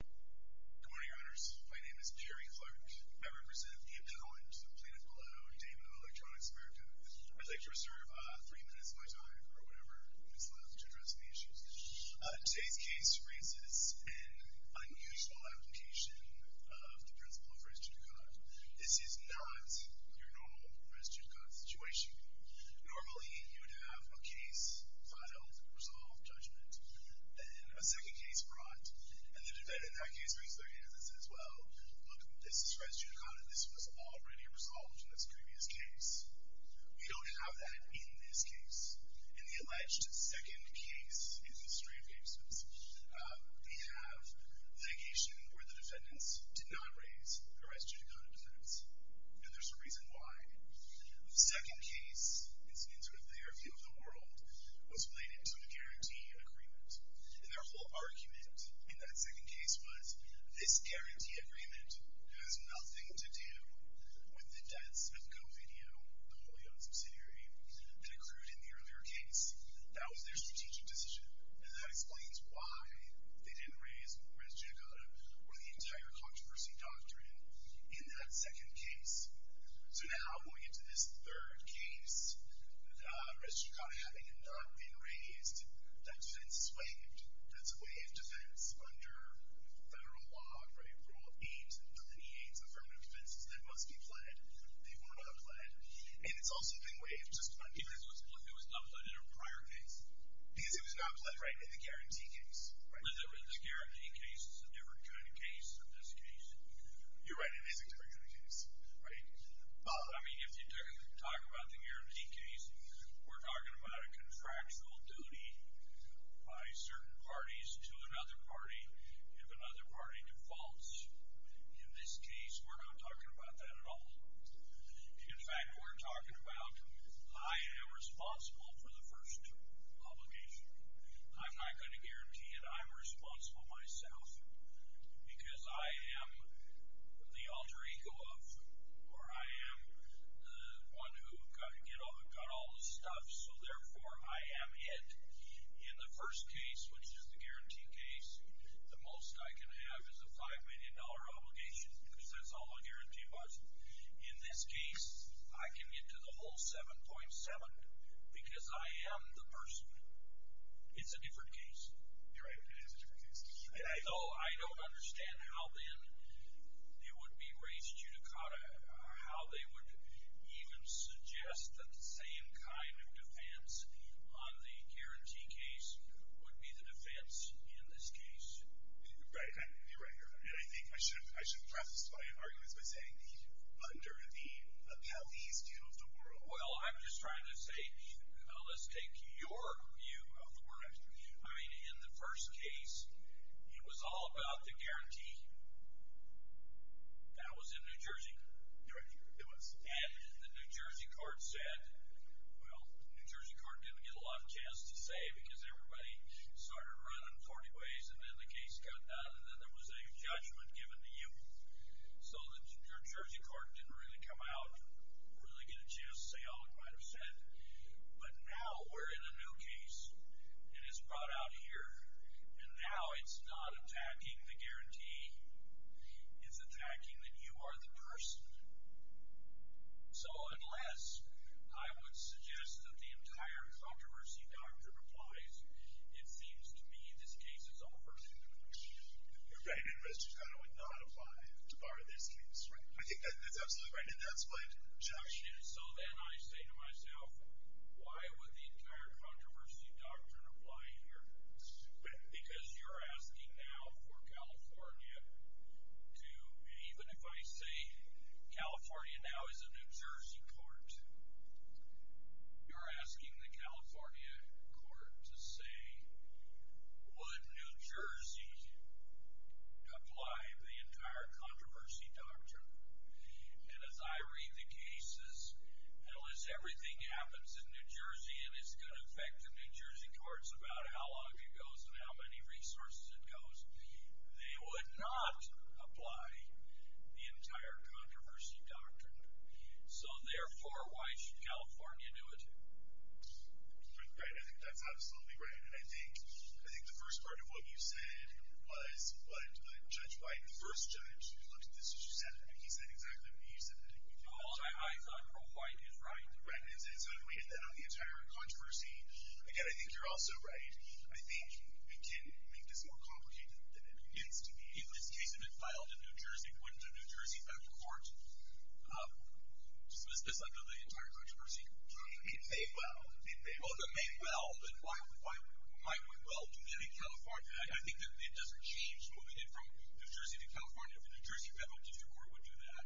Good morning, Owners. My name is Perry Clark. I represent Ian Cohen to the plaintiff below, Daewoo Electronics America. I'd like to reserve three minutes of my time, or whatever is left, to address any issues. Today's case raises an unusual application of the principle of res judicata. This is not your normal res judicata situation. Normally, you would have a case filed, resolved, judged, then a second case brought, and the defendant in that case raises their hand and says, well, look, this is res judicata. This was already resolved in this previous case. We don't have that in this case. In the alleged second case in the history of cases, we have litigation where the defendants did not raise the res judicata defense, and there's a reason why. The second case, it's in sort of the airfield of the world, was played into a guarantee of agreement. And their whole argument in that second case was, this guarantee agreement has nothing to do with the debts of GoVideo, the wholly owned subsidiary, that accrued in the earlier case. That was their strategic decision, and that explains why they didn't raise res judicata or the entire controversy doctrine in that second case. So now, going into this third case, the res judicata having not been raised, that defense is waived. That's a waived defense under federal law, right, the rule of eight. Under the eight affirmative defenses, they must be pled. They were not pled. And it's also been waived just because it was not pled in a prior case. Because it was not pled, right, in the guarantee case. Was it with the guarantee case a different kind of case than this case? You're right. It is a different kind of case, right. But, I mean, if you talk about the guarantee case, we're talking about a contractual duty by certain parties to another party if another party defaults. In this case, we're not talking about that at all. In fact, we're talking about I am responsible for the first obligation. I'm not going to guarantee it. I'm responsible myself because I am the alter ego of, or I am the one who got all the stuff, so, therefore, I am it. In the first case, which is the guarantee case, the most I can have is a $5 million obligation because that's all the guarantee was. In this case, I can get to the whole 7.7 because I am the person. It's a different case. You're right. It is a different case. So, I don't understand how, then, it would be res judicata, how they would even suggest that the same kind of defense on the guarantee case would be the defense in this case. Right. You're right. You're right. I mean, I think I should process my arguments by saying under the police view of the world. Well, I'm just trying to say, let's take your view of the world. I mean, in the first case, it was all about the guarantee. That was in New Jersey. You're right. It was. And the New Jersey court said, well, the New Jersey court didn't get a lot of chance to say because everybody started running 40 ways and then the case got done and then there was a judgment given to you. So, the New Jersey court didn't really come out, really get a chance to say all it might have said. But now we're in a new case and it's brought out here and now it's not attacking the guarantee. It's attacking that you are the person. So, unless I would suggest that the entire controversy doctrine applies, it seems to me this case is over. Right. Res judicata would not apply to part of this case, right? I think that's absolutely right and that's my objection. So, then I say to myself, why would the entire controversy doctrine apply here? Because you're asking now for California to, even if I say California now is a New Jersey court, you're asking the California court to say, would New Jersey apply the entire controversy doctrine? And as I read the cases, hell, as everything happens in New Jersey and it's going to affect the New Jersey courts about how long it goes and how many resources it goes, they would not apply the entire controversy doctrine. So, therefore, why should California do it? Right. I think that's absolutely right. And I think the first part of what you said was, but Judge White, the first judge, looked at this as you said it, and he said exactly what you said. I thought Pro White is right. Right. And so, to weigh in then on the entire controversy, again, I think you're also right. I think it can make this more complicated than it needs to be. In this case, if it filed in New Jersey, went to a New Jersey federal court, dismiss this under the entire controversy doctrine. It may well. It may well. It may well, but why would well do that in California? I think that it doesn't change moving it from New Jersey to California. If a New Jersey federal district court would do that,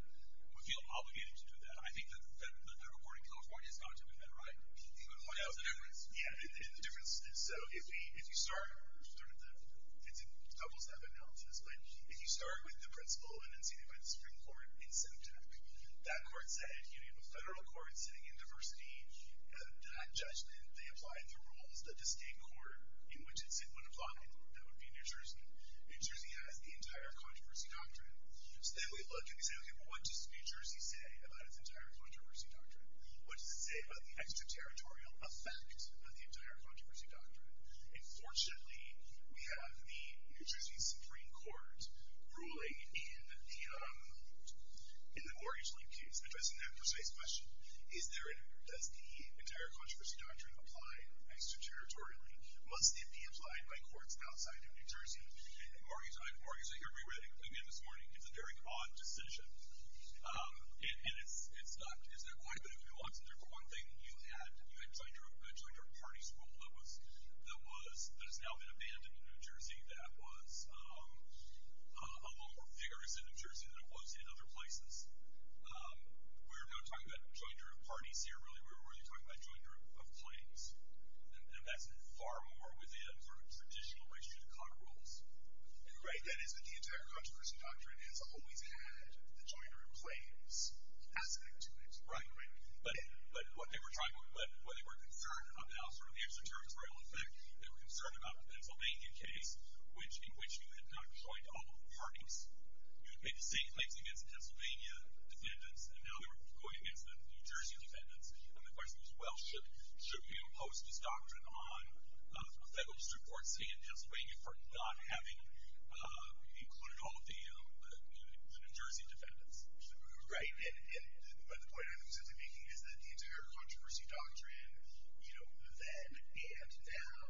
would feel obligated to do that. I think that the federal court in California is not doing that right. But why? What's the difference? Yeah, the difference is, so, if you start, it's in almost every analysis, but if you start with the principal and then sit it with the Supreme Court in September, that court said, you need a federal court sitting in diversity, and that judgment, they apply it through rules, but the state court in which it would apply it, that would be New Jersey. New Jersey has the entire controversy doctrine. So then we look and we say, okay, well what does New Jersey say about its entire controversy doctrine? What does it say about the extraterritorial effect of the entire controversy doctrine? And fortunately, we have the New Jersey Supreme Court ruling in the mortgage link case, addressing that precise question. Is there, does the entire controversy doctrine apply extraterritorially? Must it be applied by courts outside of New Jersey? So here's what we did this morning. It's a very odd decision. And it's not, is there quite a bit of nuance in there? For one thing, you had Joyner Party's rule that was, that has now been abandoned in New Jersey, that was a lot more vigorous in New Jersey than it was in other places. We're not talking about Joyner Party's here, really. We're really talking about Joyner of Plains. And that's far more within sort of traditional race judicata rules. Right, that is, but the entire controversy doctrine has always had the Joyner of Plains aspect to it. Right, right. But what they were concerned about, sort of the extraterritorial effect, they were concerned about the Pennsylvania case, in which you had not joined all the parties. You had made the same claims against the Pennsylvania defendants, and now they were going against the New Jersey defendants. And the question was, well, should we impose this doctrine on a federal district court, say in Pennsylvania, for not having included all of the New Jersey defendants? Right, and the point I'm simply making is that the entire controversy doctrine, you know, then and now,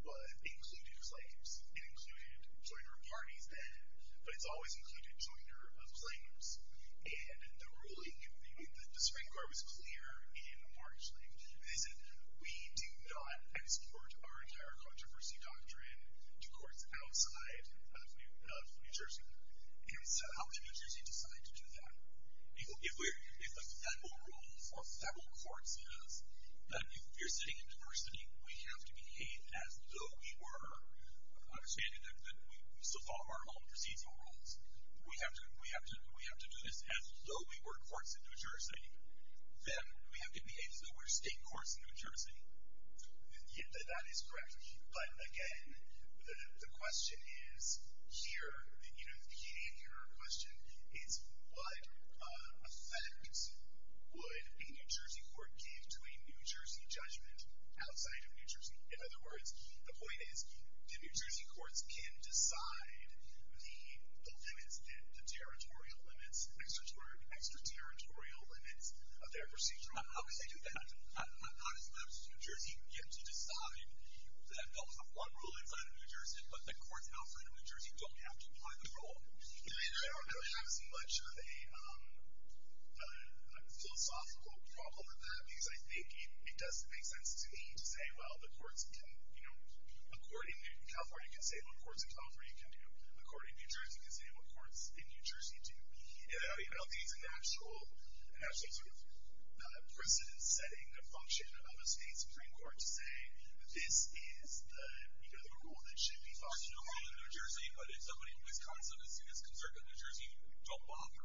was including slaves. It included Joyner Party's then, but it's always included Joyner of Plains. And the ruling, the Supreme Court was clear in March, they said we do not export our entire controversy doctrine to courts outside of New Jersey. And so how did New Jersey decide to do that? If a federal rule for federal courts is that if you're sitting in diversity, we have to behave as though we were understanding that we still follow our own procedural rules. We have to do this as though we were courts in New Jersey. Then we have to behave as though we're state courts in New Jersey. Yeah, that is correct. But again, the question is here, you know, the key to your question is what effect would a New Jersey court give to a New Jersey judgment outside of New Jersey? In other words, the point is, do New Jersey courts can decide the limits and the territorial limits, extraterritorial limits of their procedural rules? How could they do that? Not as much. New Jersey gets to decide that there's a federal rule outside of New Jersey, but the courts outside of New Jersey don't have to apply the rule. I don't have as much of a philosophical problem with that because I think it does make sense to me to say, well, the courts can, you know, according to California, you can say what courts in California can do. According to New Jersey, you can say what courts in New Jersey do. I don't think it's an actual sort of precedent-setting function of a state Supreme Court to say, this is the rule that should be followed in New Jersey. But if somebody in Wisconsin, as soon as it comes up in New Jersey, don't bother.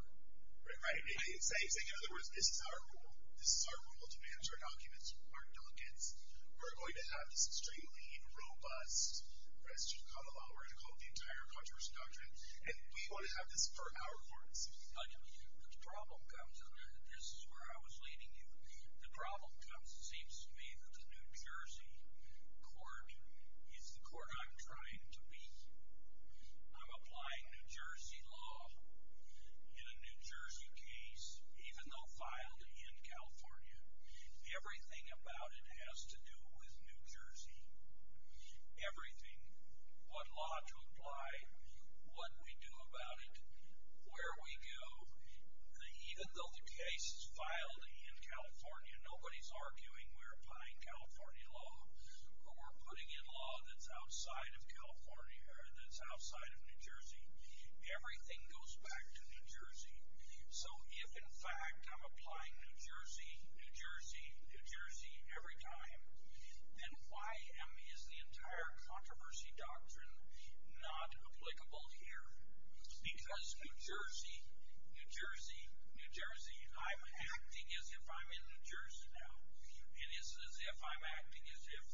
Right? In other words, this is our rule. This is our rule to manage our documents, our delegates. We're going to have this extremely robust constitutional law. We're going to call it the Entire Controversial Doctrine. And we want to have this for our courts. The problem comes, and this is where I was leading you, the problem comes, it seems to me, that the New Jersey court is the court I'm trying to be. I'm applying New Jersey law in a New Jersey case, even though filed in California. Everything about it has to do with New Jersey. Everything, what law to apply, what we do about it, where we go. Even though the case is filed in California, nobody's arguing we're applying California law or we're putting in law that's outside of New Jersey. Everything goes back to New Jersey. So if, in fact, I'm applying New Jersey, New Jersey, New Jersey every time, then why is the Entire Controversial Doctrine not applicable here? Because New Jersey, New Jersey, New Jersey. I'm acting as if I'm in New Jersey now. And it's as if I'm acting as if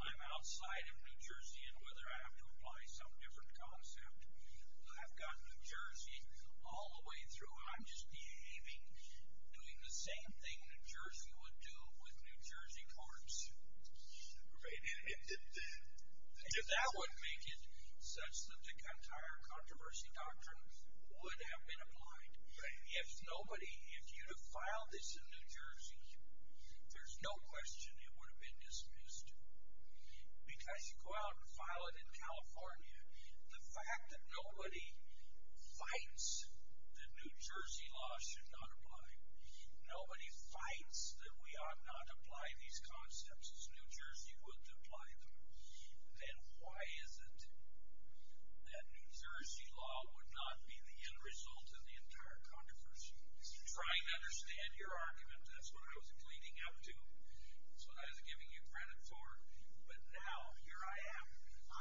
I'm outside of New Jersey and whether I have to apply some different concept. I've got New Jersey all the way through. I'm just behaving, doing the same thing New Jersey would do with New Jersey courts. Right. And if that would make it such that the Entire Controversial Doctrine would have been applied. Right. If nobody, if you'd have filed this in New Jersey, there's no question it would have been dismissed. Because you go out and file it in California, the fact that nobody fights that New Jersey law should not apply, nobody fights that we ought not apply these concepts as New Jersey would apply them, then why is it that New Jersey law would not be the end result of the Entire Controversial Doctrine? I'm trying to understand your argument. That's what I was leading up to. That's what I was giving you credit for. But now here I am.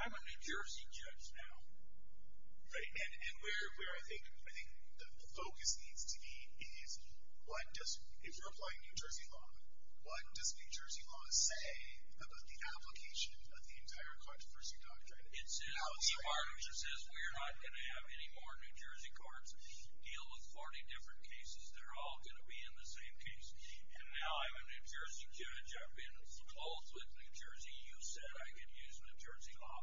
I'm a New Jersey judge now. Right. And where I think the focus needs to be is what does, if you're applying New Jersey law, what does New Jersey law say about the application of the Entire Controversial Doctrine? It says, the arbitrator says we're not going to have any more New Jersey courts deal with 40 different cases. They're all going to be in the same case. And now I'm a New Jersey judge. I've been close with New Jersey. You said I could use New Jersey law.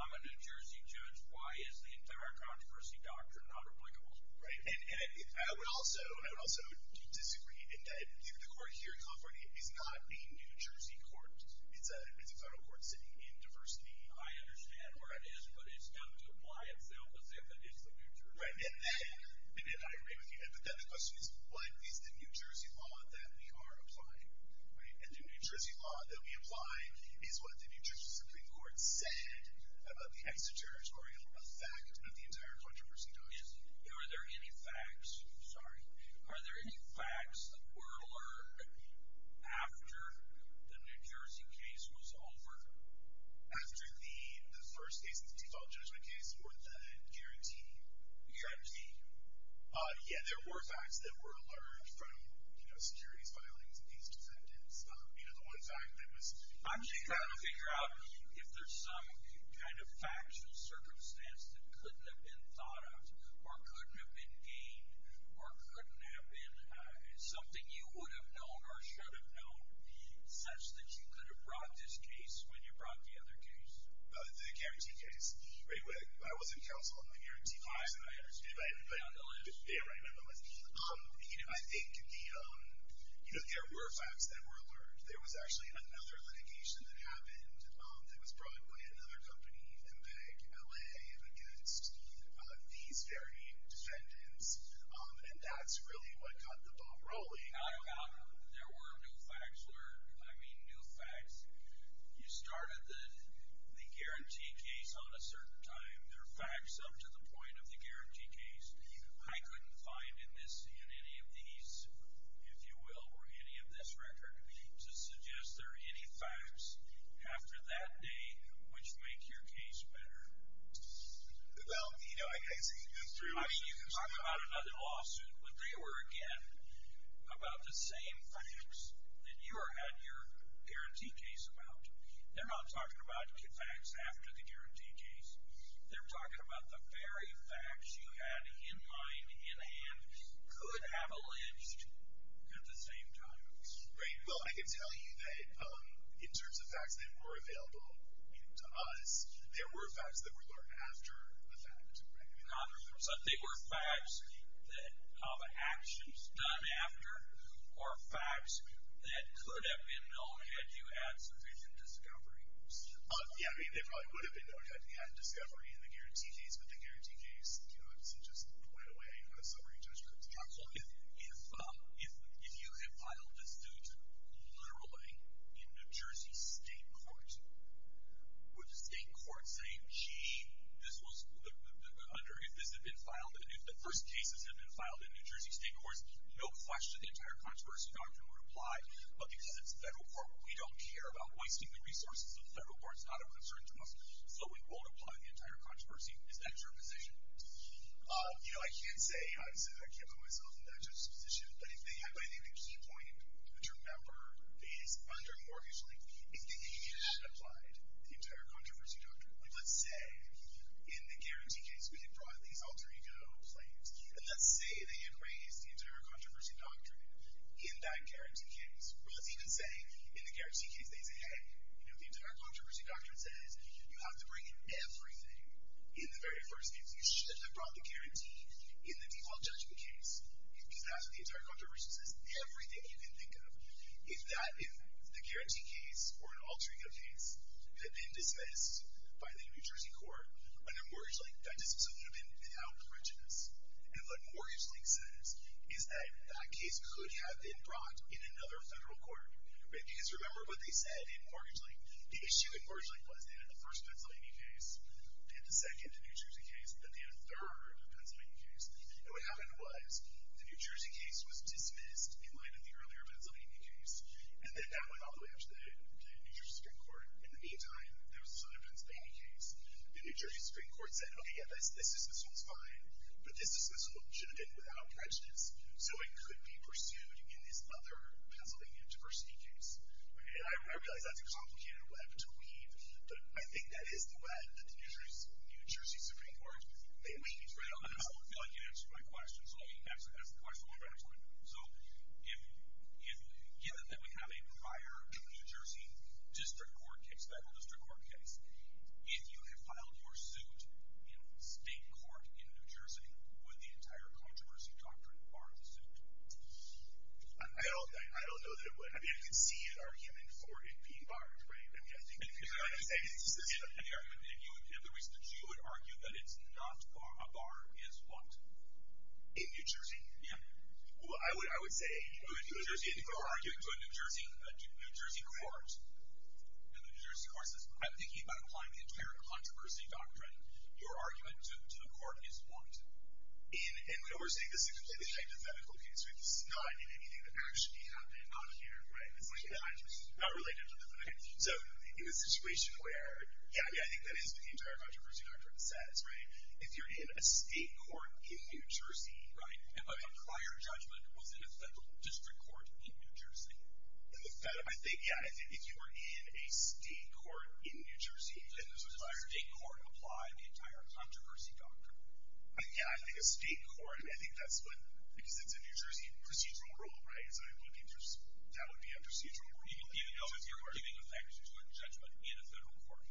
I'm a New Jersey judge. Why is the Entire Controversial Doctrine not applicable? Right. And I would also disagree in that the court here in California is not a New Jersey court. It's a federal court sitting in diversity. I understand where it is, but it's got to apply itself as if it is the New Jersey court. Right. And I agree with you. But then the question is, what is the New Jersey law that we are applying? And the New Jersey law that we apply is what the New Jersey Supreme Court said about the extraterritorial effect of the Entire Controversial Doctrine. Are there any facts that were alerted after the New Jersey case was over? After the first case, the default judgment case, or the guarantee? Guarantee. Yeah, there were facts that were alerted from, you know, securities, violence, and these defendants. You know, the one fact that was... I'm just trying to figure out if there's some kind of facts or circumstance that couldn't have been thought of or couldn't have been gained or couldn't have been something you would have known or should have known such that you could have brought this case when you brought the other case. The guarantee case. I was in counsel on the guarantee case. I understand. You're on the list. Yeah, right. I'm on the list. You know, I think there were facts that were alert. There was actually another litigation that happened that was brought by another company, MPEG-LA, against these very defendants. And that's really what got the ball rolling. There were new facts alert. I mean, new facts. You started the guarantee case on a certain time. There are facts up to the point of the guarantee case. I couldn't find in this, in any of these, if you will, or any of this record, to suggest there are any facts after that day which make your case better. Well, you know, I guess... They're talking about the same facts that you had your guarantee case about. They're not talking about facts after the guarantee case. They're talking about the very facts you had in mind, in hand, could have alleged at the same time. Right. Well, I can tell you that in terms of facts that were available to us, there were facts that were learned after the fact, right? They were facts that have actions done after, or facts that could have been known had you had sufficient discovery. Yeah, I mean, they probably would have been known had you had discovery in the guarantee case, but the guarantee case, you know, it's just put away on a summary judgment. Absolutely. If you had filed this suit literally in New Jersey state court, would the state court say, gee, this was under... If this had been filed... If the first cases had been filed in New Jersey state courts, no question the entire controversy doctrine would apply, but because it's federal court, we don't care about wasting the resources of federal courts. It's not a concern to us, so it won't apply to the entire controversy. Is that your position? You know, I can't say... I can't put myself in that judge's position, but if they had, by their viewpoint, which remember is under mortgage length, if they had applied the entire controversy doctrine, like let's say in the guarantee case we had brought these alter ego claims, and let's say they had raised the entire controversy doctrine in that guarantee case, or let's even say in the guarantee case they say, hey, you know, the entire controversy doctrine says you have to bring in everything in the very first case. You should have brought the guarantee in the default judgment case because that's what the entire controversy says. Everything you can think of is that in the guarantee case or an alter ego case had been dismissed by the New Jersey court under mortgage length. That dismissal would have been without prejudice. And what mortgage length says is that that case could have been brought in another federal court. Because remember what they said in mortgage length. The issue in mortgage length was they had the first Pennsylvania case, they had the second New Jersey case, then they had a third Pennsylvania case, and what happened was the New Jersey case was dismissed in light of the earlier Pennsylvania case, and then that went all the way up to the New Jersey Supreme Court. In the meantime, there was this other Pennsylvania case. The New Jersey Supreme Court said, okay, yeah, this dismissal is fine, but this dismissal should have been without prejudice, so it could be pursued in this other Pennsylvania diversity case. And I realize that's a complicated web to weave, but I think that is the web that the New Jersey Supreme Court, I don't feel like you answered my question, so let me answer the question one more time. So given that we have a prior New Jersey district court case, federal district court case, if you had filed your suit in state court in New Jersey, would the entire controversy doctrine bar the suit? I don't know that it would. I mean, I can see an argument for it being barred, right? I'm just saying it's a specific argument. If the reason that you would argue that it's not a bar is what? In New Jersey? Yeah. Well, I would say if you were arguing to a New Jersey court, and the New Jersey court says, I'm thinking about applying the entire controversy doctrine, your argument to the court is what? And we're saying this is a completely hypothetical case, so it's not in anything that actually happened on here, right? It's not related to the case. So in a situation where, yeah, yeah, I think that is what the entire controversy doctrine says, right? If you're in a state court in New Jersey, right? But a prior judgment was in a federal district court in New Jersey. In the federal, I think, yeah, if you were in a state court in New Jersey, then the entire state court applied the entire controversy doctrine. Yeah, I think a state court, I think that's what, because it's a New Jersey procedural rule, right? So that would be a procedural rule. Do you even know if you're giving effect to a judgment in a federal court?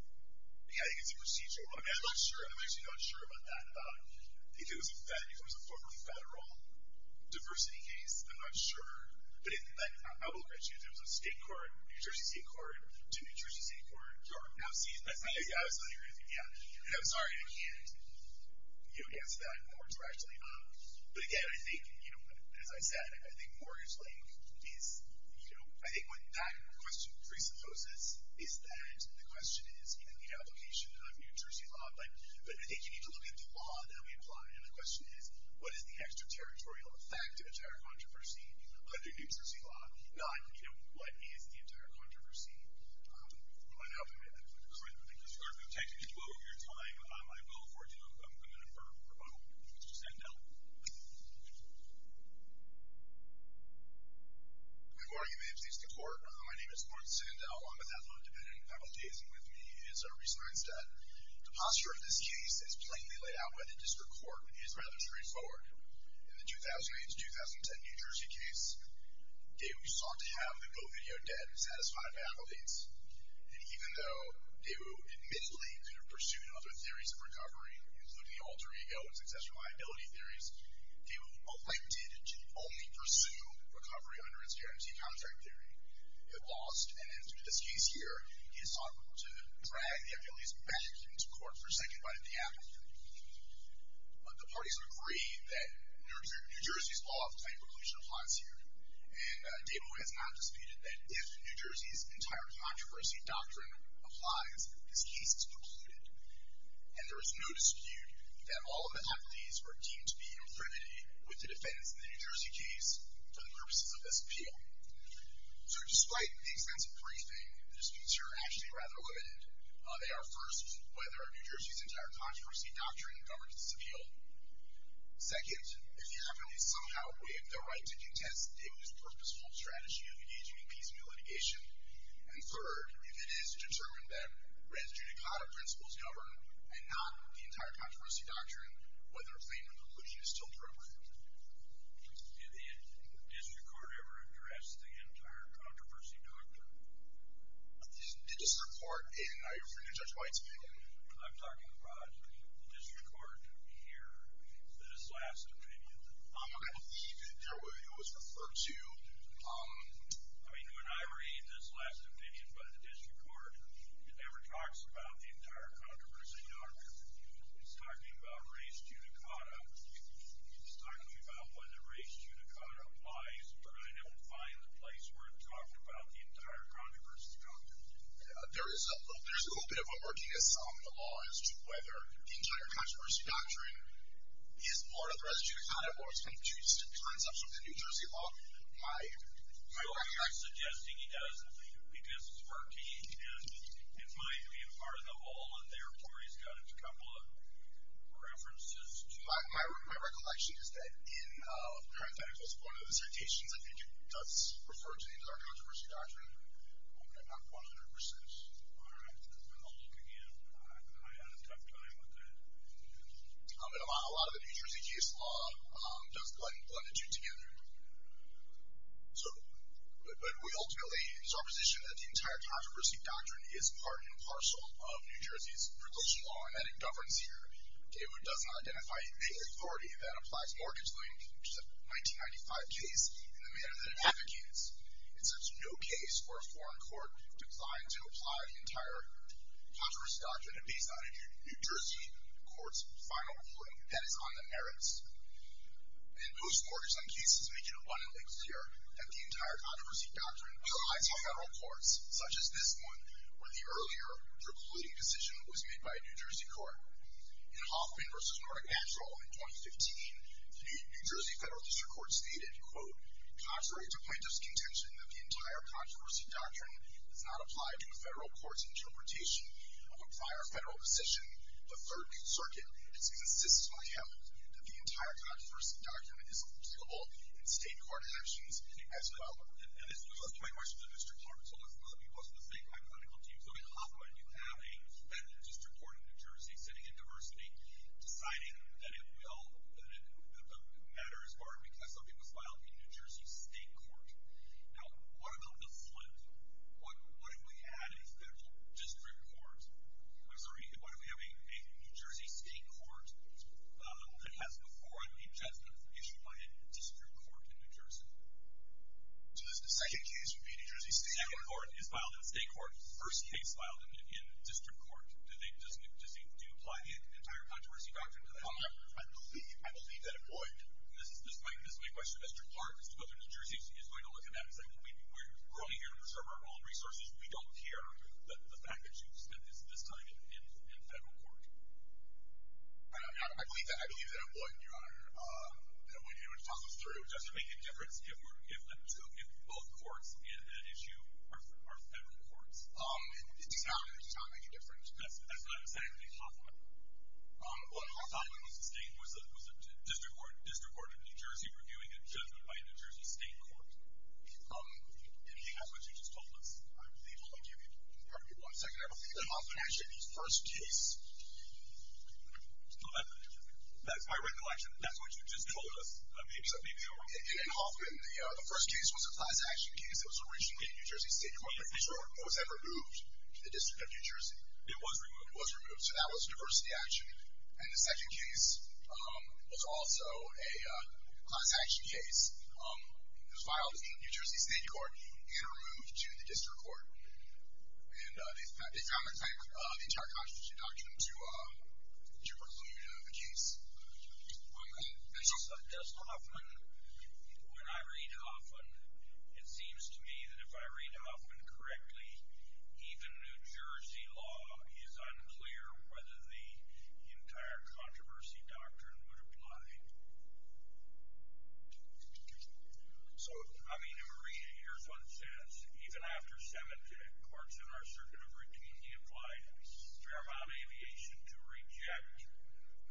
Yeah, I think it's a procedural rule. I'm not sure. I'm actually not sure about that, about if it was a federal, if it was a formerly federal diversity case. I'm not sure. But I will agree with you. If it was a state court, New Jersey state court, to a New Jersey state court. I was not hearing anything. I'm sorry, I can't answer that more directly. But again, I think, you know, as I said, I think mortgage link is, you know, I think what that question presupposes is that the question is, you know, the application of New Jersey law, but I think you need to look at the law that we apply. And the question is, what is the extraterritorial effect of the entire controversy under New Jersey law? Not, you know, what is the entire controversy? I don't know. I think that's a good point. Mr. Garfield, thank you for your time. I vote for you. I'm going to defer for a moment. Mr. Sandell? Good morning, ladies and gentlemen. My name is Lawrence Sandell. I'm with Ethical and Dependent Faculties, and with me is Reese Neinstedt. The posture of this case is plainly laid out by the district court and is rather straightforward. In the 2008 to 2010 New Jersey case, Daewoo sought to have the GoVideo dead and satisfied faculty. And even though Daewoo admittedly pursued other theories of recovery, including the alter ego and successful liability theories, Daewoo elected to only pursue recovery under its guarantee contract theory. It lost, and in this case here, he has sought to drag the affiliates back into court for second by the capital. But the parties have agreed that New Jersey's law of claim preclusion applies here. And Daewoo has not disputed that if New Jersey's entire controversy doctrine applies, this case is precluded. And there is no dispute that all of the affiliates were deemed to be in infinity with the defense in the New Jersey case for the purposes of this appeal. So despite the extensive briefing, the disputes here are actually rather limited. They are, first, whether New Jersey's entire controversy doctrine governs this appeal. Second, if you happen to somehow waive the right to contest Daewoo's purposeful strategy of engaging in piecemeal litigation. And third, if it is determined that res judicata principles govern and not the entire controversy doctrine, whether claim preclusion is still appropriate. Did the district court ever address the entire controversy doctrine? Did this report in your opinion, Judge Weitzman? I'm talking about the district court here, this last opinion. I believe it was referred to. I mean, when I read this last opinion by the district court, it never talks about the entire controversy doctrine. It's talking about res judicata. It's talking about whether res judicata applies, but I don't find the place where it's talking about the entire controversy doctrine. There is a little bit of a murkyness on the law as to whether the entire controversy doctrine is part of the res judicata or if it turns up something in New Jersey law. My recollection is that in parenthetical support of the citations, I think it does refer to the entire controversy doctrine. I'm not 100% sure. I'll look again. I had a tough time with it. A lot of the New Jersey case law does blend the two together. But we ultimately, it's our position that the entire controversy doctrine is part and parcel of New Jersey's regulation law and that it governs here. It does not identify the authority that applies mortgage lien, which is a 1995 case, in the manner that it advocates. It sets no case for a foreign court designed to apply the entire controversy doctrine based on a New Jersey court's final ruling that is on the merits. In most mortgage loan cases, make it abundantly clear that the entire controversy doctrine applies to federal courts, such as this one, where the earlier precluding decision was made by a New Jersey court. In Hoffman v. Nordic Natural in 2015, the New Jersey federal district court stated, quote, contrary to plaintiff's contention that the entire controversy doctrine does not apply to a federal court's interpretation of a prior federal decision, the Third Circuit insists on him that the entire controversy doctrine is applicable in state court actions as well. And this goes back to my question to the district court. It's one of the people on the state hypothetical team. So in Hoffman, you have a federal district court in New Jersey sitting in diversity, deciding that it will, that the matter is barred because something was filed in a New Jersey state court. Now, what about the Flint? What if we had a federal district court? I'm sorry, what if we have a New Jersey state court that has before it a judgment issued by a district court in New Jersey? So the second case would be a New Jersey state court. Second court is filed in a state court. First case filed in a district court. Do you apply the entire controversy doctrine to that? I believe that it would. This is my question to the district court as to whether New Jersey is going to look at that and say we're only here to preserve our own resources. We don't care that the fact that you've spent this time in federal court. I believe that it would, Your Honor. I don't want anyone to talk us through. Does it make a difference if both courts in that issue are federal courts? It does not make a difference. That's what I'm saying. Hoffman was a district court in New Jersey reviewing a judgment by a New Jersey state court. Anything else that you just told us? Pardon me one second. In Hoffman's first case. That's my recollection. That's what you just told us. In Hoffman, the first case was a class action case. It was originally a New Jersey state court. It was then removed to the District of New Jersey. It was removed. It was removed. So that was a diversity action. And the second case was also a class action case filed in a New Jersey state court and removed to the district court. And they found the fact of the entire constitution document to prelude a case. Does Hoffman, when I read Hoffman, it seems to me that if I read Hoffman correctly, even New Jersey law is unclear whether the entire controversy doctrine would apply. So, I mean, Maria, here's what it says. Even after seven courts in our circuit of routine, he applied Fairmont Aviation to reject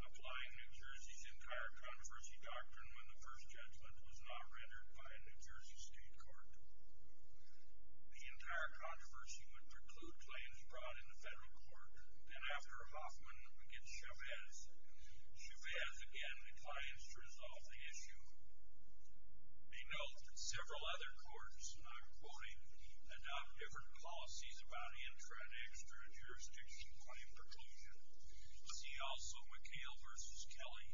applying New Jersey's entire controversy doctrine when the first judgment was not rendered by a New Jersey state court. The entire controversy would preclude claims brought in the federal court. And after Hoffman gets Chavez, Chavez, again, declines to resolve the issue. They note that several other courts, and I'm quoting, adopt different policies about intra- and extra-jurisdiction claim preclusion. See also McHale v. Kelly.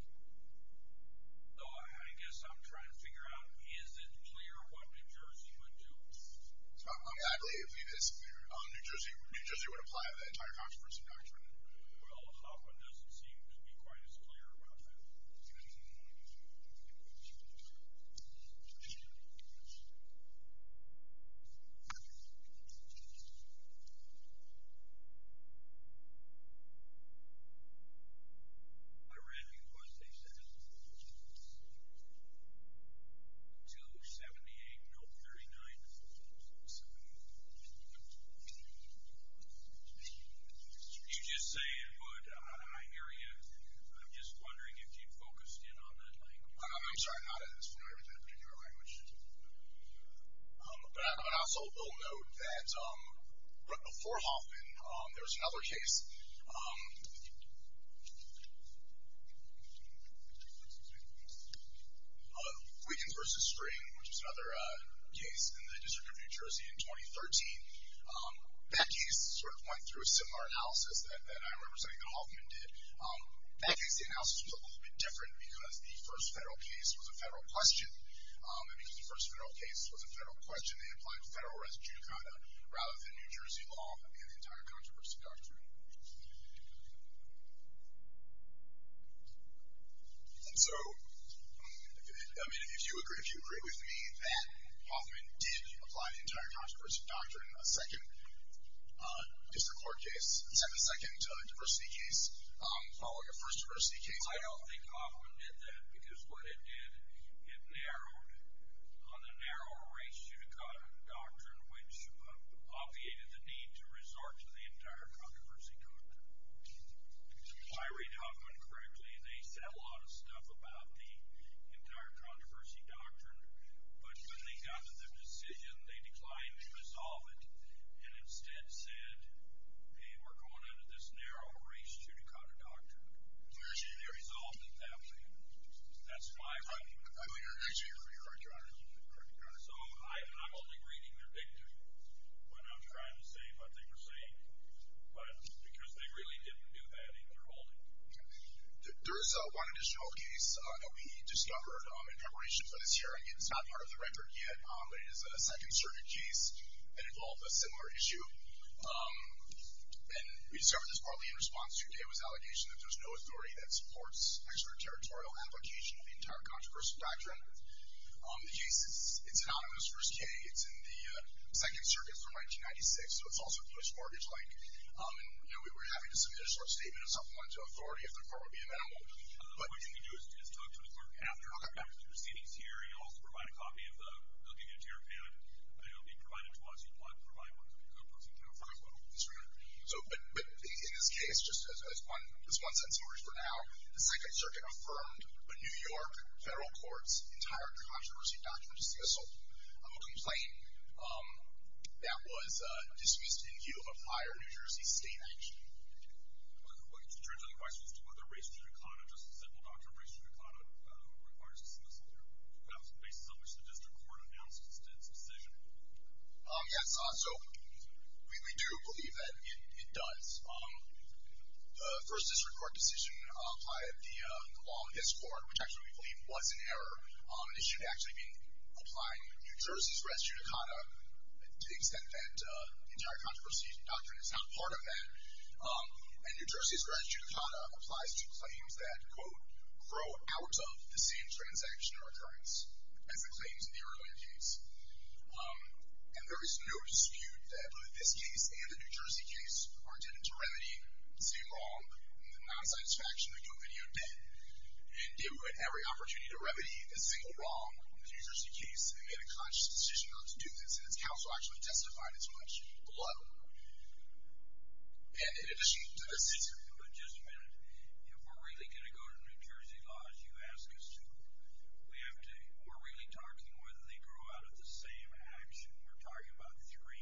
So, I guess I'm trying to figure out, is it clear what New Jersey would do? Well, Hoffman doesn't seem to be quite as clear about that. Okay. I read because they said 278, no 39. You just say it, but I hear you. I'm just wondering if you focused in on that language. I'm sorry, not in that particular language. But I also will note that before Hoffman, there was another case, Wiggins v. String, which was another case in the District of New Jersey in 2013. Becky sort of went through a similar analysis that I remember saying that Hoffman did. That case, the analysis was a little bit different because the first federal case was a federal question. And because the first federal case was a federal question, they applied federal residue to conduct rather than New Jersey law and the entire controversy doctrine. And so, I mean, if you agree with me that Hoffman did apply the entire controversy doctrine, a second district court case, a second diversity case, following a first diversity case. I don't think Hoffman did that because what it did, it narrowed on the narrow ratio doctrine, which obviated the need to resort to the entire controversy doctrine. If I read Hoffman correctly, they said a lot of stuff about the entire controversy doctrine. But when they got to the decision, they declined to resolve it and instead said, hey, we're going under this narrow ratio to counter doctrine. And they resolved it that way. That's my argument. I believe you're actually right, Your Honor. So I'm only reading their victory when I'm trying to say what they were saying. But because they really didn't do that in their holding. There is one additional case that we discovered in preparation for this hearing. It's not part of the record yet. It is a Second Circuit case. It involved a similar issue. And we discovered this probably in response to Dava's allegation that there's no authority that supports extraterritorial application of the entire controversy doctrine. The case is anonymous. First K, it's in the Second Circuit from 1996. So it's also push-mortgage-like. And we were happy to submit a short statement of supplemental authority if the court would be amenable. What you can do is talk to the court after the proceedings here or you can also provide a copy of the Bill of Duty Interim Pamphlet. It will be provided to us. You'd want to provide one copy to go to us. You can't afford one. But in this case, just as one sense of order for now, the Second Circuit affirmed the New York federal court's entire controversy doctrine dismissal. I'm going to complain. That was dismissed in view of prior New Jersey state action. In terms of the questions to whether race should be caught, just a simple doctrine race should be caught requires dismissal based on which the district court announced its decision. Yes. So we do believe that it does. The first district court decision applied the law in this court, which actually we believe was in error, an issue actually being applied in New Jersey's res judicata to the extent that the entire controversy doctrine is not part of that. And New Jersey's res judicata applies to claims that, quote, grow outwards of the same transaction or occurrence as the claims in the earlier case. And there is no dispute that both this case and the New Jersey case are intended to remedy the same wrong, the non-satisfaction, the convivial debt, and give every opportunity to remedy the single wrong in the New Jersey case and get a conscious decision not to do this. And its counsel actually testified as much below. And in addition to this decision, Just a minute. If we're really going to go to New Jersey laws, you ask us to. We're really talking whether they grow out of the same action. We're talking about three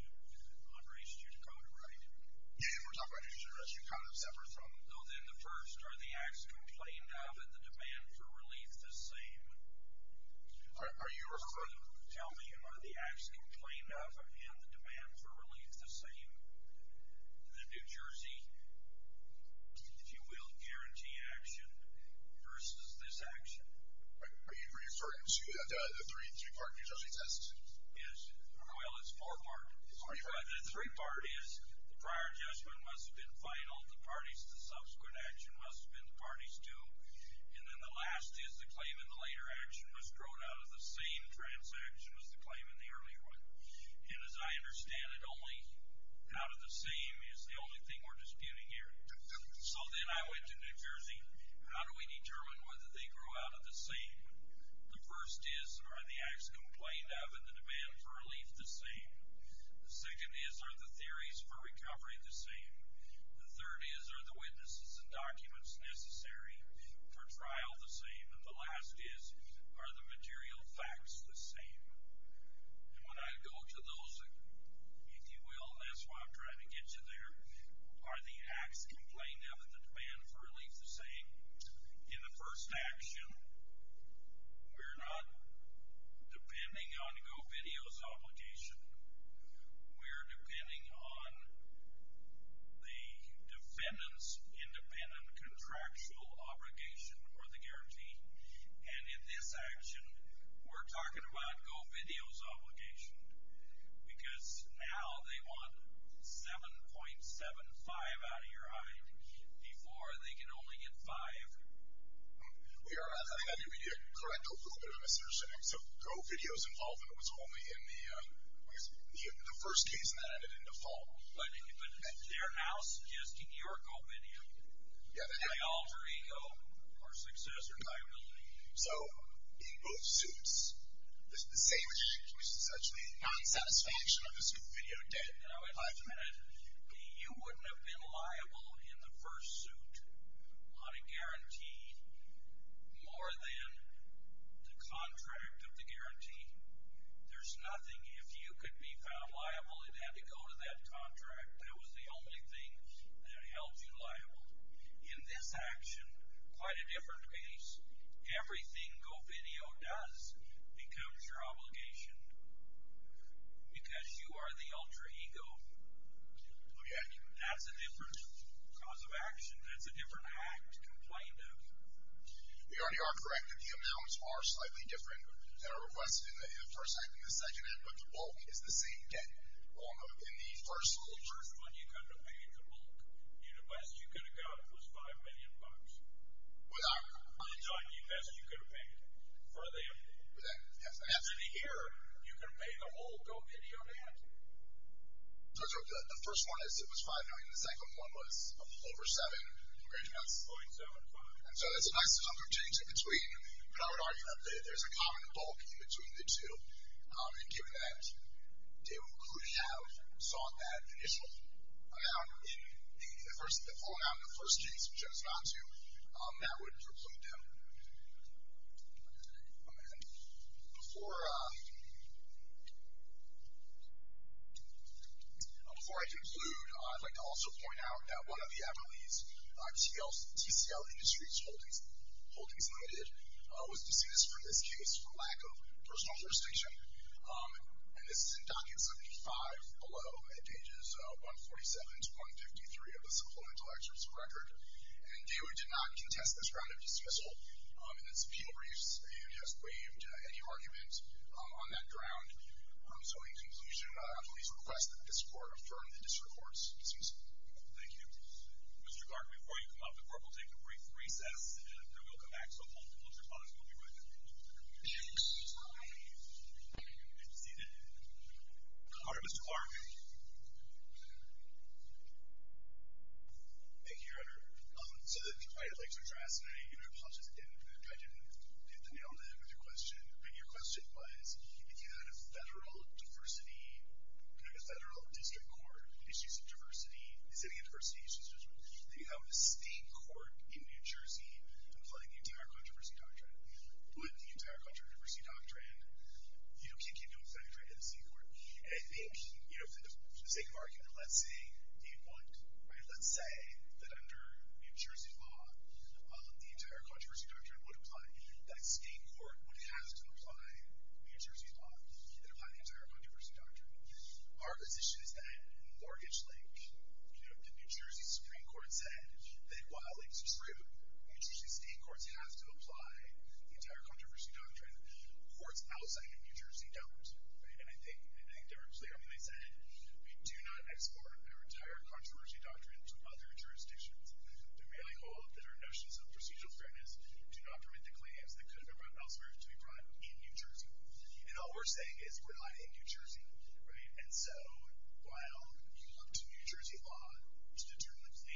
on res judicata, right? Yes, we're talking about New Jersey res judicata, except for some. Oh, then the first, are the acts complained of and the demand for relief the same? Are you referring to? Tell me, are the acts complained of and the demand for relief the same? The New Jersey, if you will, guarantee action versus this action. Are you referring to the three-part New Jersey test? Yes. Well, it's four-part. The three-part is the prior judgment must have been final, the parties to the subsequent action must have been the parties to, and then the last is the claim in the later action was grown out of the same transaction as the claim in the earlier one. And as I understand it, only out of the same is the only thing we're disputing here. So then I went to New Jersey. How do we determine whether they grow out of the same? The first is, are the acts complained of and the demand for relief the same? The second is, are the theories for recovery the same? The third is, are the witnesses and documents necessary for trial the same? And the last is, are the material facts the same? And when I go to those, if you will, that's why I'm trying to get you there, are the acts complained of and the demand for relief the same? In the first action, we're not depending on GoVideo's obligation. We're depending on the defendant's independent contractual obligation or the guarantee. And in this action, we're talking about GoVideo's obligation because now they want $7.75 out of your eye before they can only get $5. I think I need to correct a little bit of a misunderstanding. So GoVideo's involvement was only in the first case and that ended in default. But they're now suggesting you're GoVideo. My alter ego or successor, I believe. So in both suits, the same excuse is actually non-satisfaction of the GoVideo debt. Now, wait a minute. You wouldn't have been liable in the first suit on a guarantee more than the contract of the guarantee. There's nothing. If you could be found liable, it had to go to that contract. That was the only thing that held you liable. In this action, quite a different case, everything GoVideo does becomes your obligation because you are the alter ego. Okay. That's a different cause of action. That's a different act to complain of. You already are correct that the amounts are slightly different than are requested in the first act and the second act, but the bulk is the same debt in the first one. The first one you couldn't have paid the bulk. The best you could have gotten was $5 million. I'm talking the best you could have paid for the entity here. You couldn't have paid the whole GoVideo debt. So the first one was $5 million. The second one was over $7 million. That's 0.75. So that's a nice number of changes in between, but I would argue that there's a common bulk in between the two. And given that they were included out, if you saw that initial amount in the full amount in the first case, which I just got to, that would preclude them. And before I conclude, I'd like to also point out that one of the anomalies, TCL Industries Holdings Limited, was dismissed from this case for lack of personal jurisdiction. And this is in Docket 75 below at pages 147 to 153 of the Supplemental Excerpt's record. And DOE did not contest this round of dismissal in its appeal briefs and has waived any argument on that ground. So in conclusion, I'll please request that this Court affirm the district court's dismissal. Thank you. Mr. Clark, before you come up, the Court will take a brief recess and then we'll come back. Mr. Clark. Thank you, Your Honor. So I'd like to address, and I apologize again, I didn't get the nail on the head with your question, but your question was, if you had a federal district court, issues of diversity, is there any diversity issues? Do you have a state court in New Jersey that's letting you do that kind of thing? Would the entire Controversy Doctrine kick into effect right at the state court? And I think, for the sake of argument, let's say it would. Let's say that under New Jersey law, the entire Controversy Doctrine would apply, that a state court would have to apply New Jersey law to apply the entire Controversy Doctrine. Our position is that in Mortgage Link, the New Jersey Supreme Court said that while it's true, New Jersey state courts have to apply the entire Controversy Doctrine. Courts outside of New Jersey don't. And I think directly, I mean, they said, we do not export our entire Controversy Doctrine to other jurisdictions. We really hope that our notions of procedural fairness do not permit the claims that could have gone elsewhere to be brought in New Jersey. And all we're saying is, we're not in New Jersey. And so while you look to New Jersey law to determine the claim.